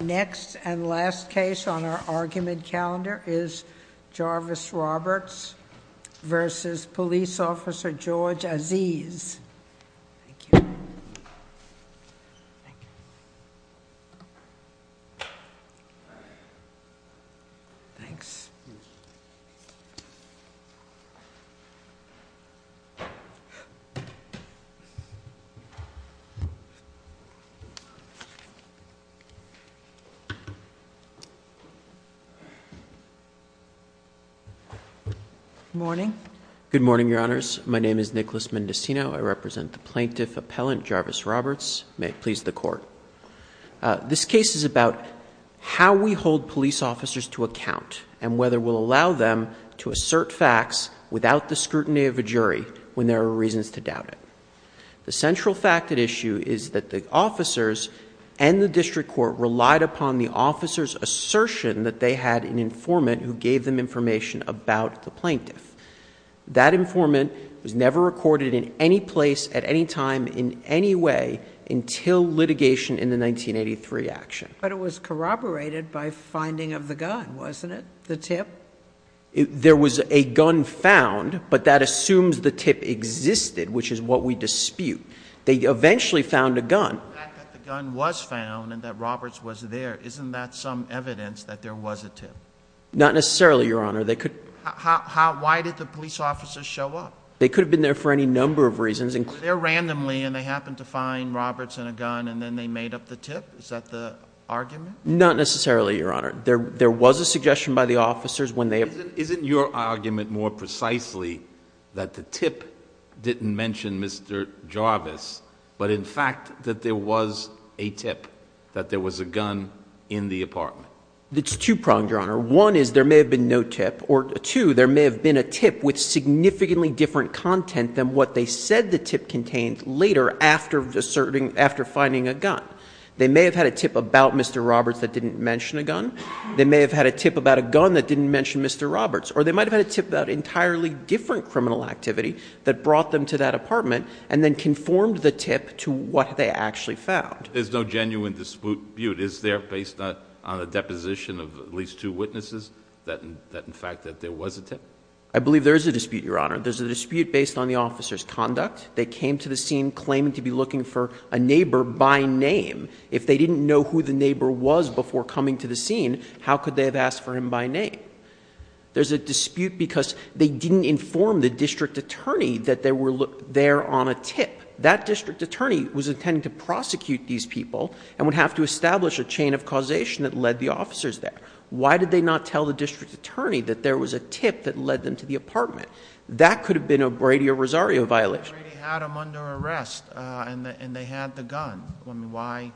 Next and last case on our argument calendar is Jarvis Roberts v. Police Officer George Aziz. Good morning, your honors. My name is Nicholas Mendocino. I represent the plaintiff appellant Jarvis Roberts. May it please the court. This case is about how we hold police officers to account and whether we'll allow them to assert facts without the scrutiny of a jury when there are reasons to doubt it. The central fact at issue is that the officers and the district court relied upon the officer's assertion that they had an informant who gave them information about the plaintiff. That informant was never recorded in any place at any time in any way until litigation in the 1983 action. But it was corroborated by finding of the gun, wasn't it, the tip? There was a gun found, but that assumes the tip existed, which is what we dispute. They eventually found a gun. The fact that the gun was found and that Roberts was there, isn't that some evidence that there was a tip? Not necessarily, your honor. They could- Why did the police officers show up? They could have been there for any number of reasons. Were they there randomly and they happened to find Roberts and a gun and then they made up the tip? Is that the argument? Not necessarily, your honor. There was a suggestion by the officers when they- Isn't your argument more precisely that the tip didn't mention Mr. Jarvis, but in fact that there was a tip, that there was a gun in the apartment? It's two-pronged, your honor. One is there may have been no tip, or two, there may have been a tip with significantly different content than what they said the tip contained later after finding a gun. They may have had a tip about Mr. Roberts that didn't mention a gun. They may have had a tip about a gun that didn't mention Mr. Roberts, or they might have had a tip about entirely different criminal activity that brought them to that apartment and then conformed the tip to what they actually found. There's no genuine dispute. Is there, based on a deposition of at least two witnesses, that in fact that there was a tip? I believe there is a dispute, your honor. There's a dispute based on the officer's conduct. They came to the scene claiming to be looking for a neighbor by name. If they didn't know who the neighbor was before coming to the scene, how could they have asked for him by name? There's a dispute because they didn't inform the district attorney that they were there on a tip. That district attorney was intending to prosecute these people and would have to establish a chain of causation that led the officers there. Why did they not tell the district attorney that there was a tip that led them to the apartment? That could have been a Brady or Rosario violation. Brady had them under arrest and they had the gun. Why,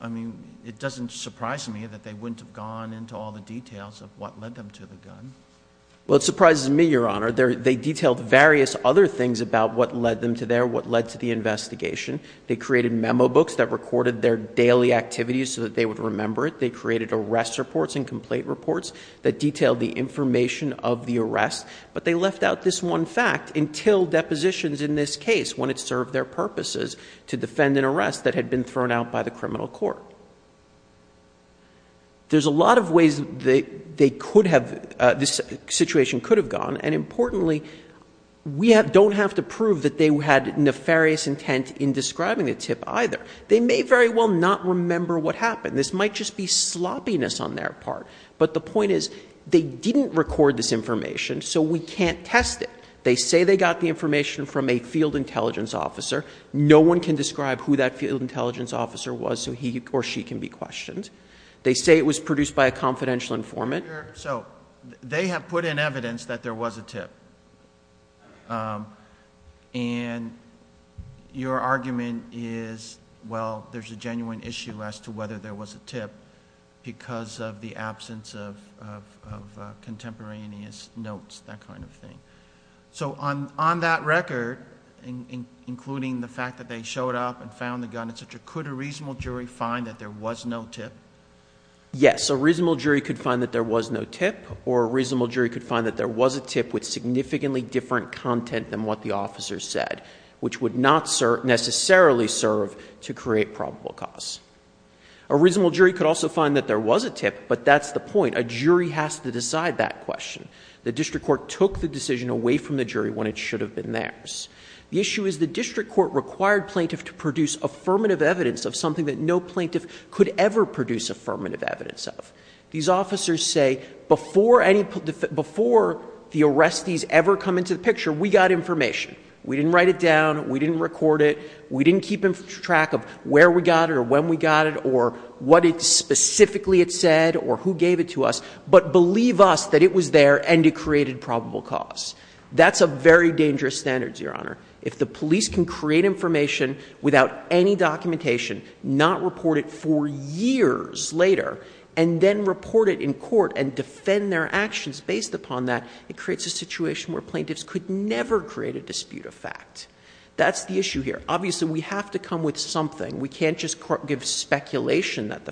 I mean, it doesn't surprise me that they wouldn't have gone into all the details of what led them to the gun. Well, it surprises me, your honor. They detailed various other things about what led them to there, what led to the investigation. They created memo books that recorded their daily activities so that they would remember it. They created arrest reports and complaint reports that detailed the information of the arrest. But they left out this one fact until depositions in this case, when it served their purposes to defend an arrest that had been thrown out by the criminal court. There's a lot of ways they could have, this situation could have gone. And importantly, we don't have to prove that they had nefarious intent in describing the tip either. They may very well not remember what happened. This might just be sloppiness on their part. But the point is, they didn't record this information, so we can't test it. They say they got the information from a field intelligence officer. No one can describe who that field intelligence officer was, so he or she can be questioned. They say it was produced by a confidential informant. So, they have put in evidence that there was a tip. And your argument is, well, there's a genuine issue as to whether there was a tip. Because of the absence of contemporaneous notes, that kind of thing. So, on that record, including the fact that they showed up and found the gun, etc. Could a reasonable jury find that there was no tip? Yes, a reasonable jury could find that there was no tip. Or a reasonable jury could find that there was a tip with significantly different content than what the officer said. Which would not necessarily serve to create probable cause. A reasonable jury could also find that there was a tip, but that's the point. A jury has to decide that question. The district court took the decision away from the jury when it should have been theirs. The issue is the district court required plaintiff to produce affirmative evidence of something that no plaintiff could ever produce affirmative evidence of. These officers say, before the arrestees ever come into the picture, we got information. We didn't write it down. We didn't record it. We didn't keep track of where we got it, or when we got it, or what specifically it said, or who gave it to us. But believe us that it was there, and it created probable cause. That's a very dangerous standard, your honor. If the police can create information without any documentation, not report it for years later, and then report it in court and defend their actions based upon that, it creates a situation where plaintiffs could never create a dispute of fact. That's the issue here. Obviously, we have to come with something. We can't just give speculation that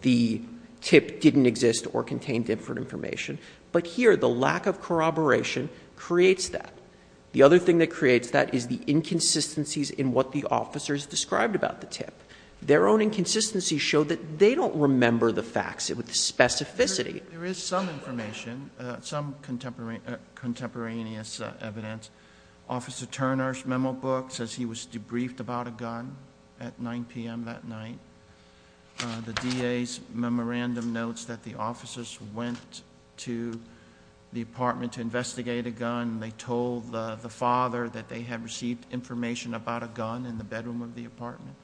the tip didn't exist or contain different information. But here, the lack of corroboration creates that. The other thing that creates that is the inconsistencies in what the officers described about the tip. Their own inconsistencies show that they don't remember the facts with specificity. There is some information, some contemporaneous evidence. Officer Turner's memo book says he was debriefed about a gun at 9 PM that night. The DA's memorandum notes that the officers went to the apartment to investigate a gun. They told the father that they had received information about a gun in the bedroom of the apartment.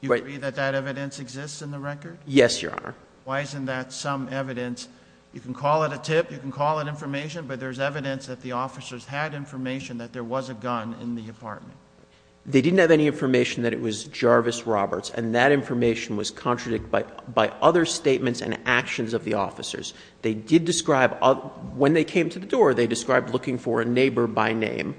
You agree that that evidence exists in the record? Yes, your honor. Why isn't that some evidence? You can call it a tip, you can call it information, but there's evidence that the officers had information that there was a gun in the apartment. They didn't have any information that it was Jarvis Roberts, and that information was contradicted by other statements and actions of the officers. They did describe, when they came to the door, they described looking for a neighbor by name.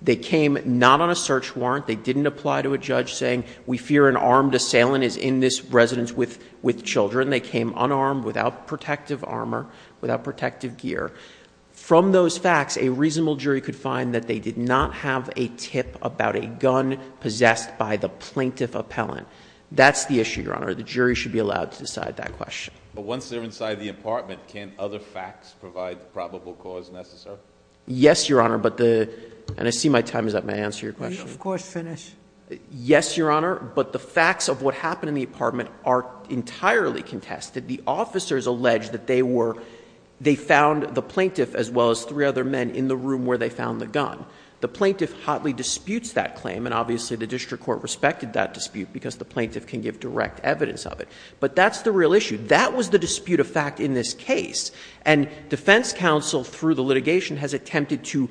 They came not on a search warrant, they didn't apply to a judge saying we fear an armed assailant is in this residence with children. They came unarmed, without protective armor, without protective gear. From those facts, a reasonable jury could find that they did not have a tip about a gun possessed by the plaintiff appellant. That's the issue, your honor. The jury should be allowed to decide that question. But once they're inside the apartment, can other facts provide the probable cause necessary? Yes, your honor, but the, and I see my time is up. May I answer your question? Of course, finish. Yes, your honor, but the facts of what happened in the apartment are entirely contested. The officers alleged that they were, they found the plaintiff as well as three other men in the room where they found the gun. The plaintiff hotly disputes that claim, and obviously the district court respected that dispute because the plaintiff can give direct evidence of it. But that's the real issue. That was the dispute of fact in this case. And defense counsel, through the litigation, has attempted to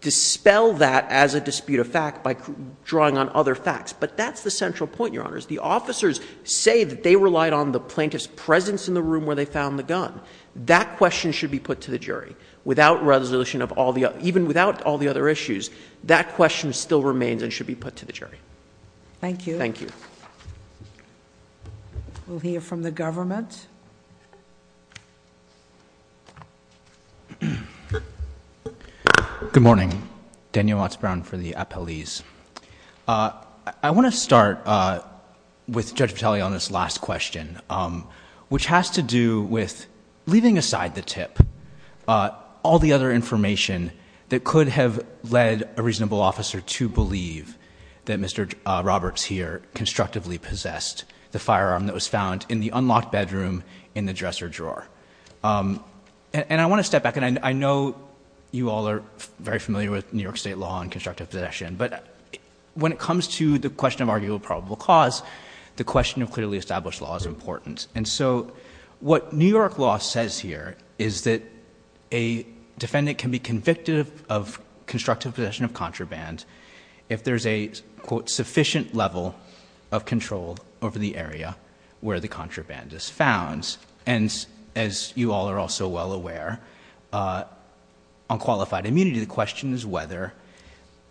dispel that as a dispute of fact by drawing on other facts. But that's the central point, your honors. The officers say that they relied on the plaintiff's presence in the room where they found the gun. That question should be put to the jury. Without resolution of all the, even without all the other issues, that question still remains and should be put to the jury. Thank you. Thank you. We'll hear from the government. Good morning, Daniel Watts-Brown for the appellees. I want to start with Judge Vitale on this last question, which has to do with leaving aside the tip, all the other information that could have led a reasonable officer to believe that Mr. Roberts here constructively possessed the firearm that was found in the unlocked bedroom in the dresser drawer. And I want to step back, and I know you all are very familiar with New York State law and constructive possession. But when it comes to the question of arguable probable cause, the question of clearly established law is important. And so what New York law says here is that a defendant can be convicted of constructive possession of contraband. If there's a, quote, sufficient level of control over the area where the contraband is found. And as you all are also well aware, on qualified immunity, the question is whether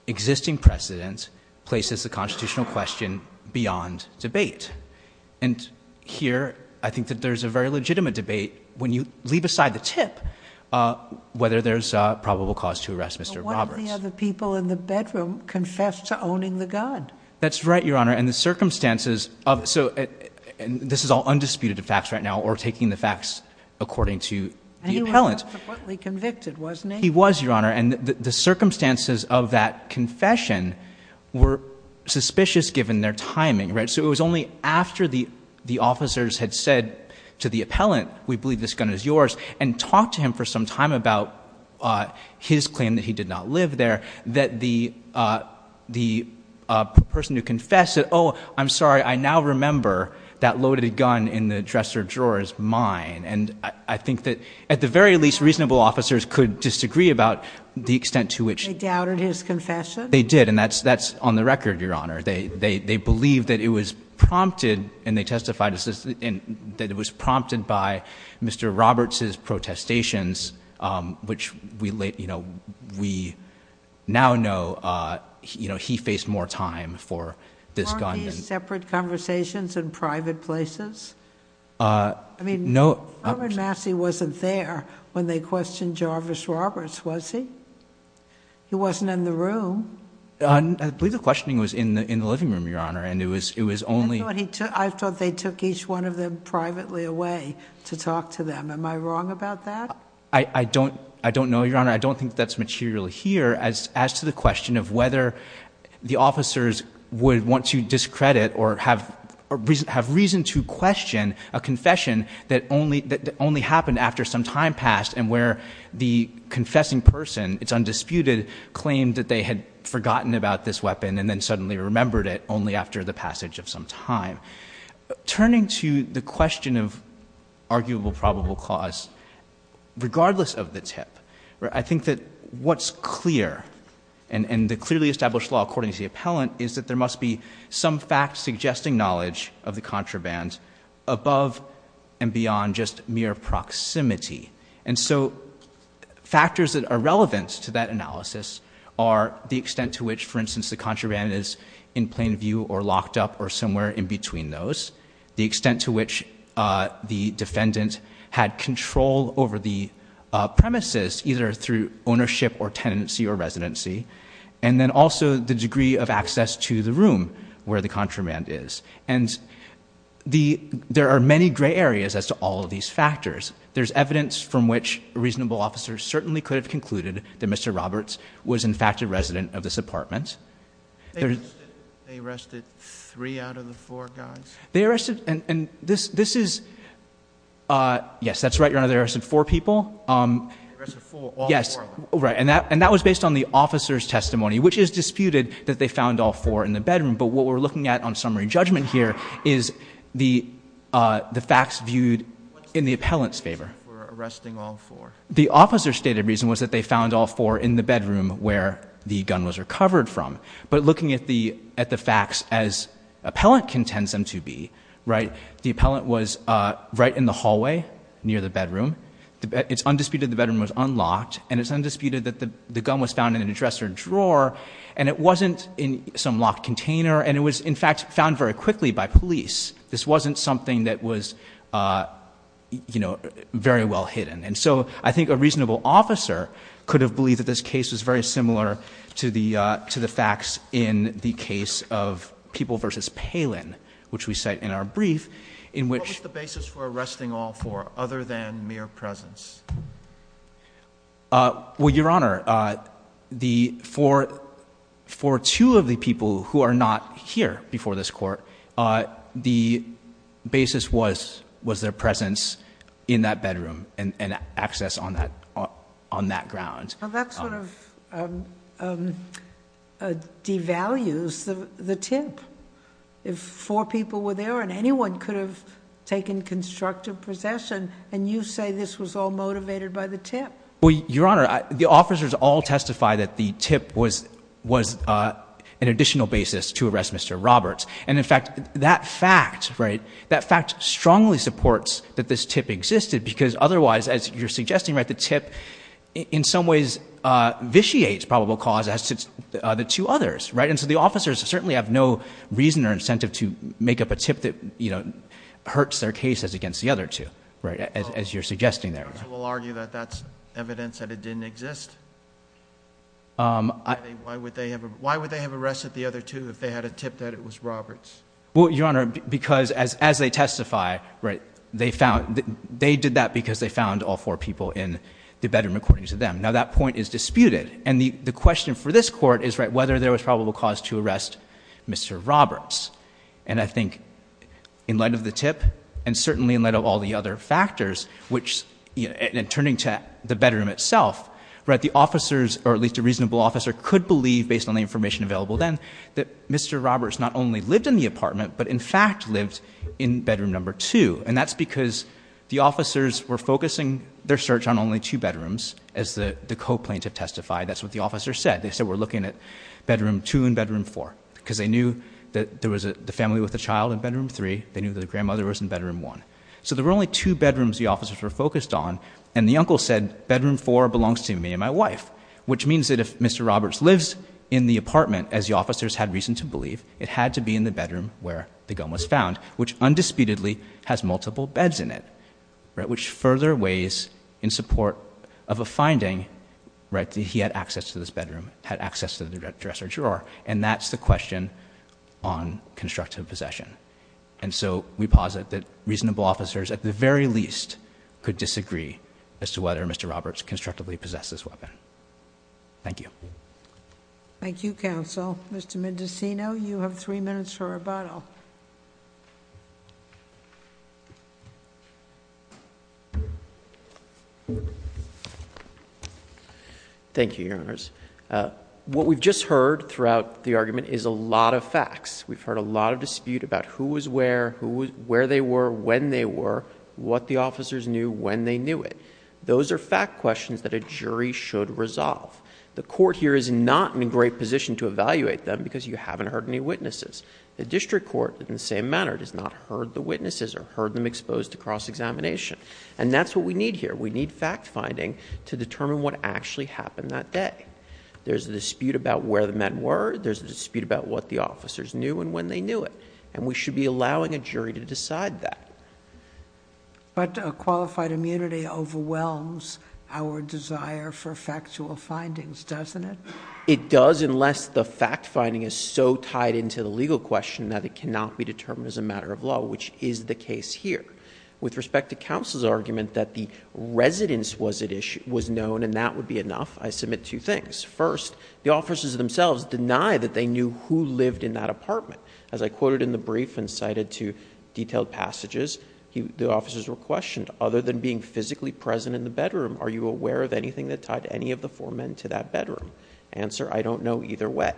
existing precedent places the constitutional question beyond debate. And here, I think that there's a very legitimate debate when you leave aside the tip, Roberts. One of the other people in the bedroom confessed to owning the gun. That's right, Your Honor, and the circumstances of, so this is all undisputed facts right now, or taking the facts according to the appellant. And he was subsequently convicted, wasn't he? He was, Your Honor, and the circumstances of that confession were suspicious given their timing, right? So it was only after the officers had said to the appellant, we believe this gun is yours, and talked to him for some time about his claim that he did not live there, that the person who confessed that, I'm sorry, I now remember that loaded gun in the dresser drawer is mine. And I think that, at the very least, reasonable officers could disagree about the extent to which- They doubted his confession? They did, and that's on the record, Your Honor. They believe that it was prompted, and they testified that it was prompted by Mr. Roberts' protestations, which we now know he faced more time for this gun. Weren't these separate conversations in private places? I mean, Robert Massey wasn't there when they questioned Jarvis Roberts, was he? He wasn't in the room. I believe the questioning was in the living room, Your Honor, and it was only- I thought they took each one of them privately away to talk to them. Am I wrong about that? I don't know, Your Honor. I don't think that's material here as to the question of whether the officers would want to discredit or have reason to question a confession that only happened after some time passed and where the confessing person, it's undisputed, claimed that they had forgotten about this weapon and then suddenly remembered it only after the passage of some time. Turning to the question of arguable probable cause, regardless of the tip, I think that what's clear, and the clearly established law according to the appellant, is that there must be some fact-suggesting knowledge of the contraband above and beyond just mere proximity. And so, factors that are relevant to that analysis are the extent to which, for instance, the contraband is in plain view or locked up or somewhere in between those. The extent to which the defendant had control over the premises, either through ownership or tenancy or residency, and then also the degree of access to the room where the contraband is. And there are many gray areas as to all of these factors. There's evidence from which reasonable officers certainly could have concluded that Mr. Roberts was in fact a resident of this apartment. There's- They arrested three out of the four guys? They arrested, and this is, yes, that's right, your Honor, they arrested four people. They arrested four, all four of them. Yes, right, and that was based on the officer's testimony, which is disputed that they found all four in the bedroom. But what we're looking at on summary judgment here is the facts viewed in the appellant's favor. We're arresting all four. The officer's stated reason was that they found all four in the bedroom where the gun was recovered from. But looking at the facts as appellant contends them to be, right? The appellant was right in the hallway near the bedroom. It's undisputed the bedroom was unlocked, and it's undisputed that the gun was found in a dresser drawer. And it wasn't in some locked container, and it was in fact found very quickly by police. This wasn't something that was very well hidden. And so I think a reasonable officer could have believed that this case was very similar to the facts in the case of People versus Palin, which we cite in our brief. In which- What was the basis for arresting all four other than mere presence? Well, Your Honor, for two of the people who are not here before this court, the basis was their presence in that bedroom and access on that ground. Well, that sort of devalues the tip. If four people were there and anyone could have taken constructive possession, and you say this was all motivated by the tip. Well, Your Honor, the officers all testify that the tip was an additional basis to arrest Mr. Roberts. And in fact, that fact, right, that fact strongly supports that this tip existed, because otherwise, as you're suggesting, right, the tip in some ways vitiates probable cause as did the two others, right? And so the officers certainly have no reason or incentive to make up a tip that, you know, hurts their cases against the other two, right, as you're suggesting there. So we'll argue that that's evidence that it didn't exist? Why would they have arrested the other two if they had a tip that it was Roberts? Well, Your Honor, because as they testify, right, they found- they did that because they found all four people in the bedroom according to them. Now that point is disputed. And the question for this court is, right, whether there was probable cause to arrest Mr. Roberts. And I think in light of the tip and certainly in light of all the other factors, which- and turning to the bedroom itself, right, the officers, or at least a reasonable officer, could believe, based on the information available then, that Mr. Roberts not only lived in the apartment, but in fact lived in bedroom number two. And that's because the officers were focusing their search on only two bedrooms, as the co-plaintiff testified. That's what the officers said. They said, we're looking at bedroom two and bedroom four, because they knew that there was the family with the child in bedroom three. They knew that the grandmother was in bedroom one. So there were only two bedrooms the officers were focused on, and the uncle said, bedroom four belongs to me and my wife, which means that if Mr. Roberts lives in the apartment, as the officers had reason to believe, it had to be in the bedroom where the gun was found, which undisputedly has multiple beds in it, right, which further weighs in support of a finding, right, that he had access to this bedroom, had access to the dresser drawer, and that's the question on constructive possession. And so we posit that reasonable officers, at the very least, could disagree as to whether Mr. Roberts constructively possessed this weapon. Thank you. Thank you, Counsel. Mr. Mendocino, you have three minutes for rebuttal. Thank you, Your Honors. What we've just heard throughout the argument is a lot of facts. We've heard a lot of dispute about who was where, where they were, when they were, what the officers knew, when they knew it. Those are fact questions that a jury should resolve. The court here is not in a great position to evaluate them because you haven't heard any witnesses. The district court, in the same manner, has not heard the witnesses or heard them exposed to cross-examination. And that's what we need here. We need fact finding to determine what actually happened that day. There's a dispute about where the men were. There's a dispute about what the officers knew and when they knew it. And we should be allowing a jury to decide that. But qualified immunity overwhelms our desire for factual findings, doesn't it? It does, unless the fact finding is so tied into the legal question that it cannot be determined as a matter of law, which is the case here. With respect to counsel's argument that the residence was known and that would be enough, I submit two things. First, the officers themselves deny that they knew who lived in that apartment. As I quoted in the brief and cited to detailed passages, the officers were questioned. Other than being physically present in the bedroom, are you aware of anything that tied any of the four men to that bedroom? Answer, I don't know either way.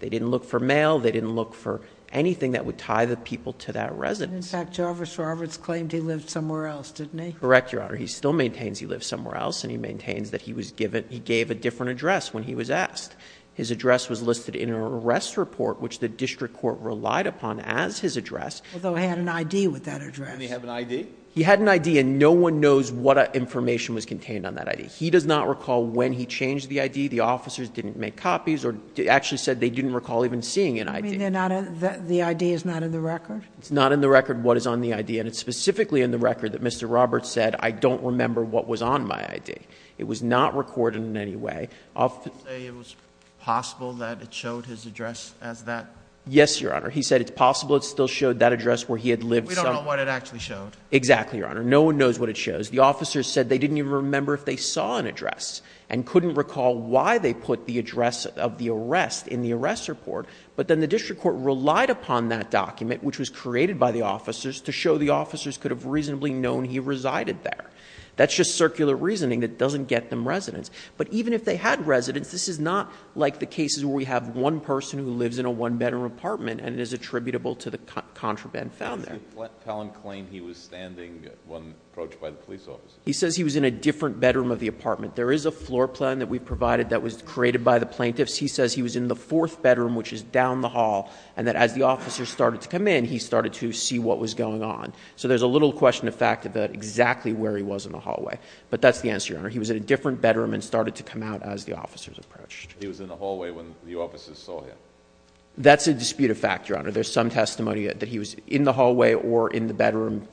They didn't look for mail. They didn't look for anything that would tie the people to that residence. In fact, Jarvis Roberts claimed he lived somewhere else, didn't he? Correct, Your Honor. He still maintains he lived somewhere else, and he maintains that he gave a different address when he was asked. His address was listed in an arrest report, which the district court relied upon as his address. Although he had an ID with that address. Didn't he have an ID? He had an ID, and no one knows what information was contained on that ID. He does not recall when he changed the ID. The officers didn't make copies or actually said they didn't recall even seeing an ID. You mean the ID is not in the record? It's not in the record what is on the ID, and it's specifically in the record that Mr. Roberts said, I don't remember what was on my ID. It was not recorded in any way. Did he say it was possible that it showed his address as that? Yes, Your Honor. He said it's possible it still showed that address where he had lived somewhere. We don't know what it actually showed. Exactly, Your Honor. No one knows what it shows. The officers said they didn't even remember if they saw an address and couldn't recall why they put the address of the arrest in the arrest report, but then the district court relied upon that document, which was created by the officers, to show the officers could have reasonably known he resided there. That's just circular reasoning that doesn't get them residence. But even if they had residence, this is not like the cases where we have one person who lives in a one-bedroom apartment and it is attributable to the contraband found there. How can you claim he was standing when approached by the police officers? He says he was in a different bedroom of the apartment. There is a floor plan that we provided that was created by the plaintiffs. He says he was in the fourth bedroom, which is down the hall, and that as the officers started to come in, he started to see what was going on. So there's a little question of fact about exactly where he was in the hallway. But that's the answer, Your Honor. He was in a different bedroom and started to come out as the officers approached. He was in the hallway when the officers saw him. That's a disputed fact, Your Honor. There's some testimony that he was in the hallway or in the bedroom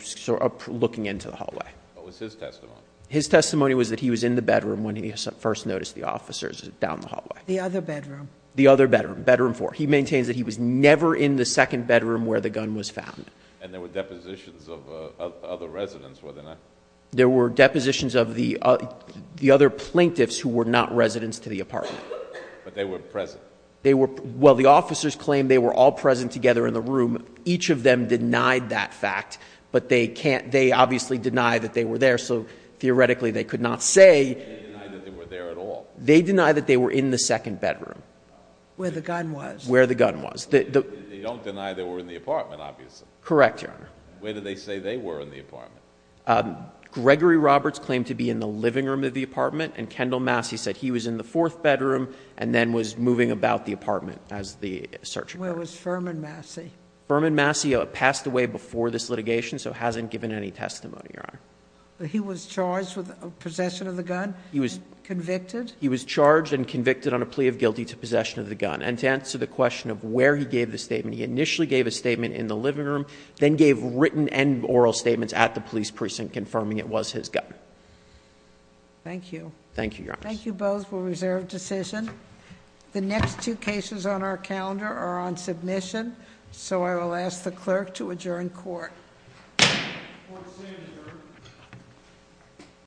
looking into the hallway. What was his testimony? His testimony was that he was in the bedroom when he first noticed the officers down the hallway. The other bedroom? The other bedroom, bedroom four. He maintains that he was never in the second bedroom where the gun was found. And there were depositions of other residents, were there not? There were depositions of the other plaintiffs who were not residents to the apartment. But they were present. Well, the officers claim they were all present together in the room. Each of them denied that fact, but they obviously deny that they were there, so theoretically they could not say. They deny that they were there at all. They deny that they were in the second bedroom. Where the gun was. Where the gun was. They don't deny they were in the apartment, obviously. Correct, Your Honor. Where did they say they were in the apartment? Gregory Roberts claimed to be in the living room of the apartment, and Kendall Massey said he was in the fourth bedroom and then was moving about the apartment as the search warrant. Where was Furman Massey? Furman Massey passed away before this litigation, so hasn't given any testimony, Your Honor. He was charged with possession of the gun? He was. Convicted? He was charged and convicted on a plea of guilty to possession of the gun. And to answer the question of where he gave the statement, he initially gave a statement in the living room, then gave written and oral statements at the police precinct confirming it was his gun. Thank you. Thank you, Your Honor. Thank you both for a reserved decision. The next two cases on our calendar are on submission, so I will ask the clerk to adjourn court. Court is adjourned.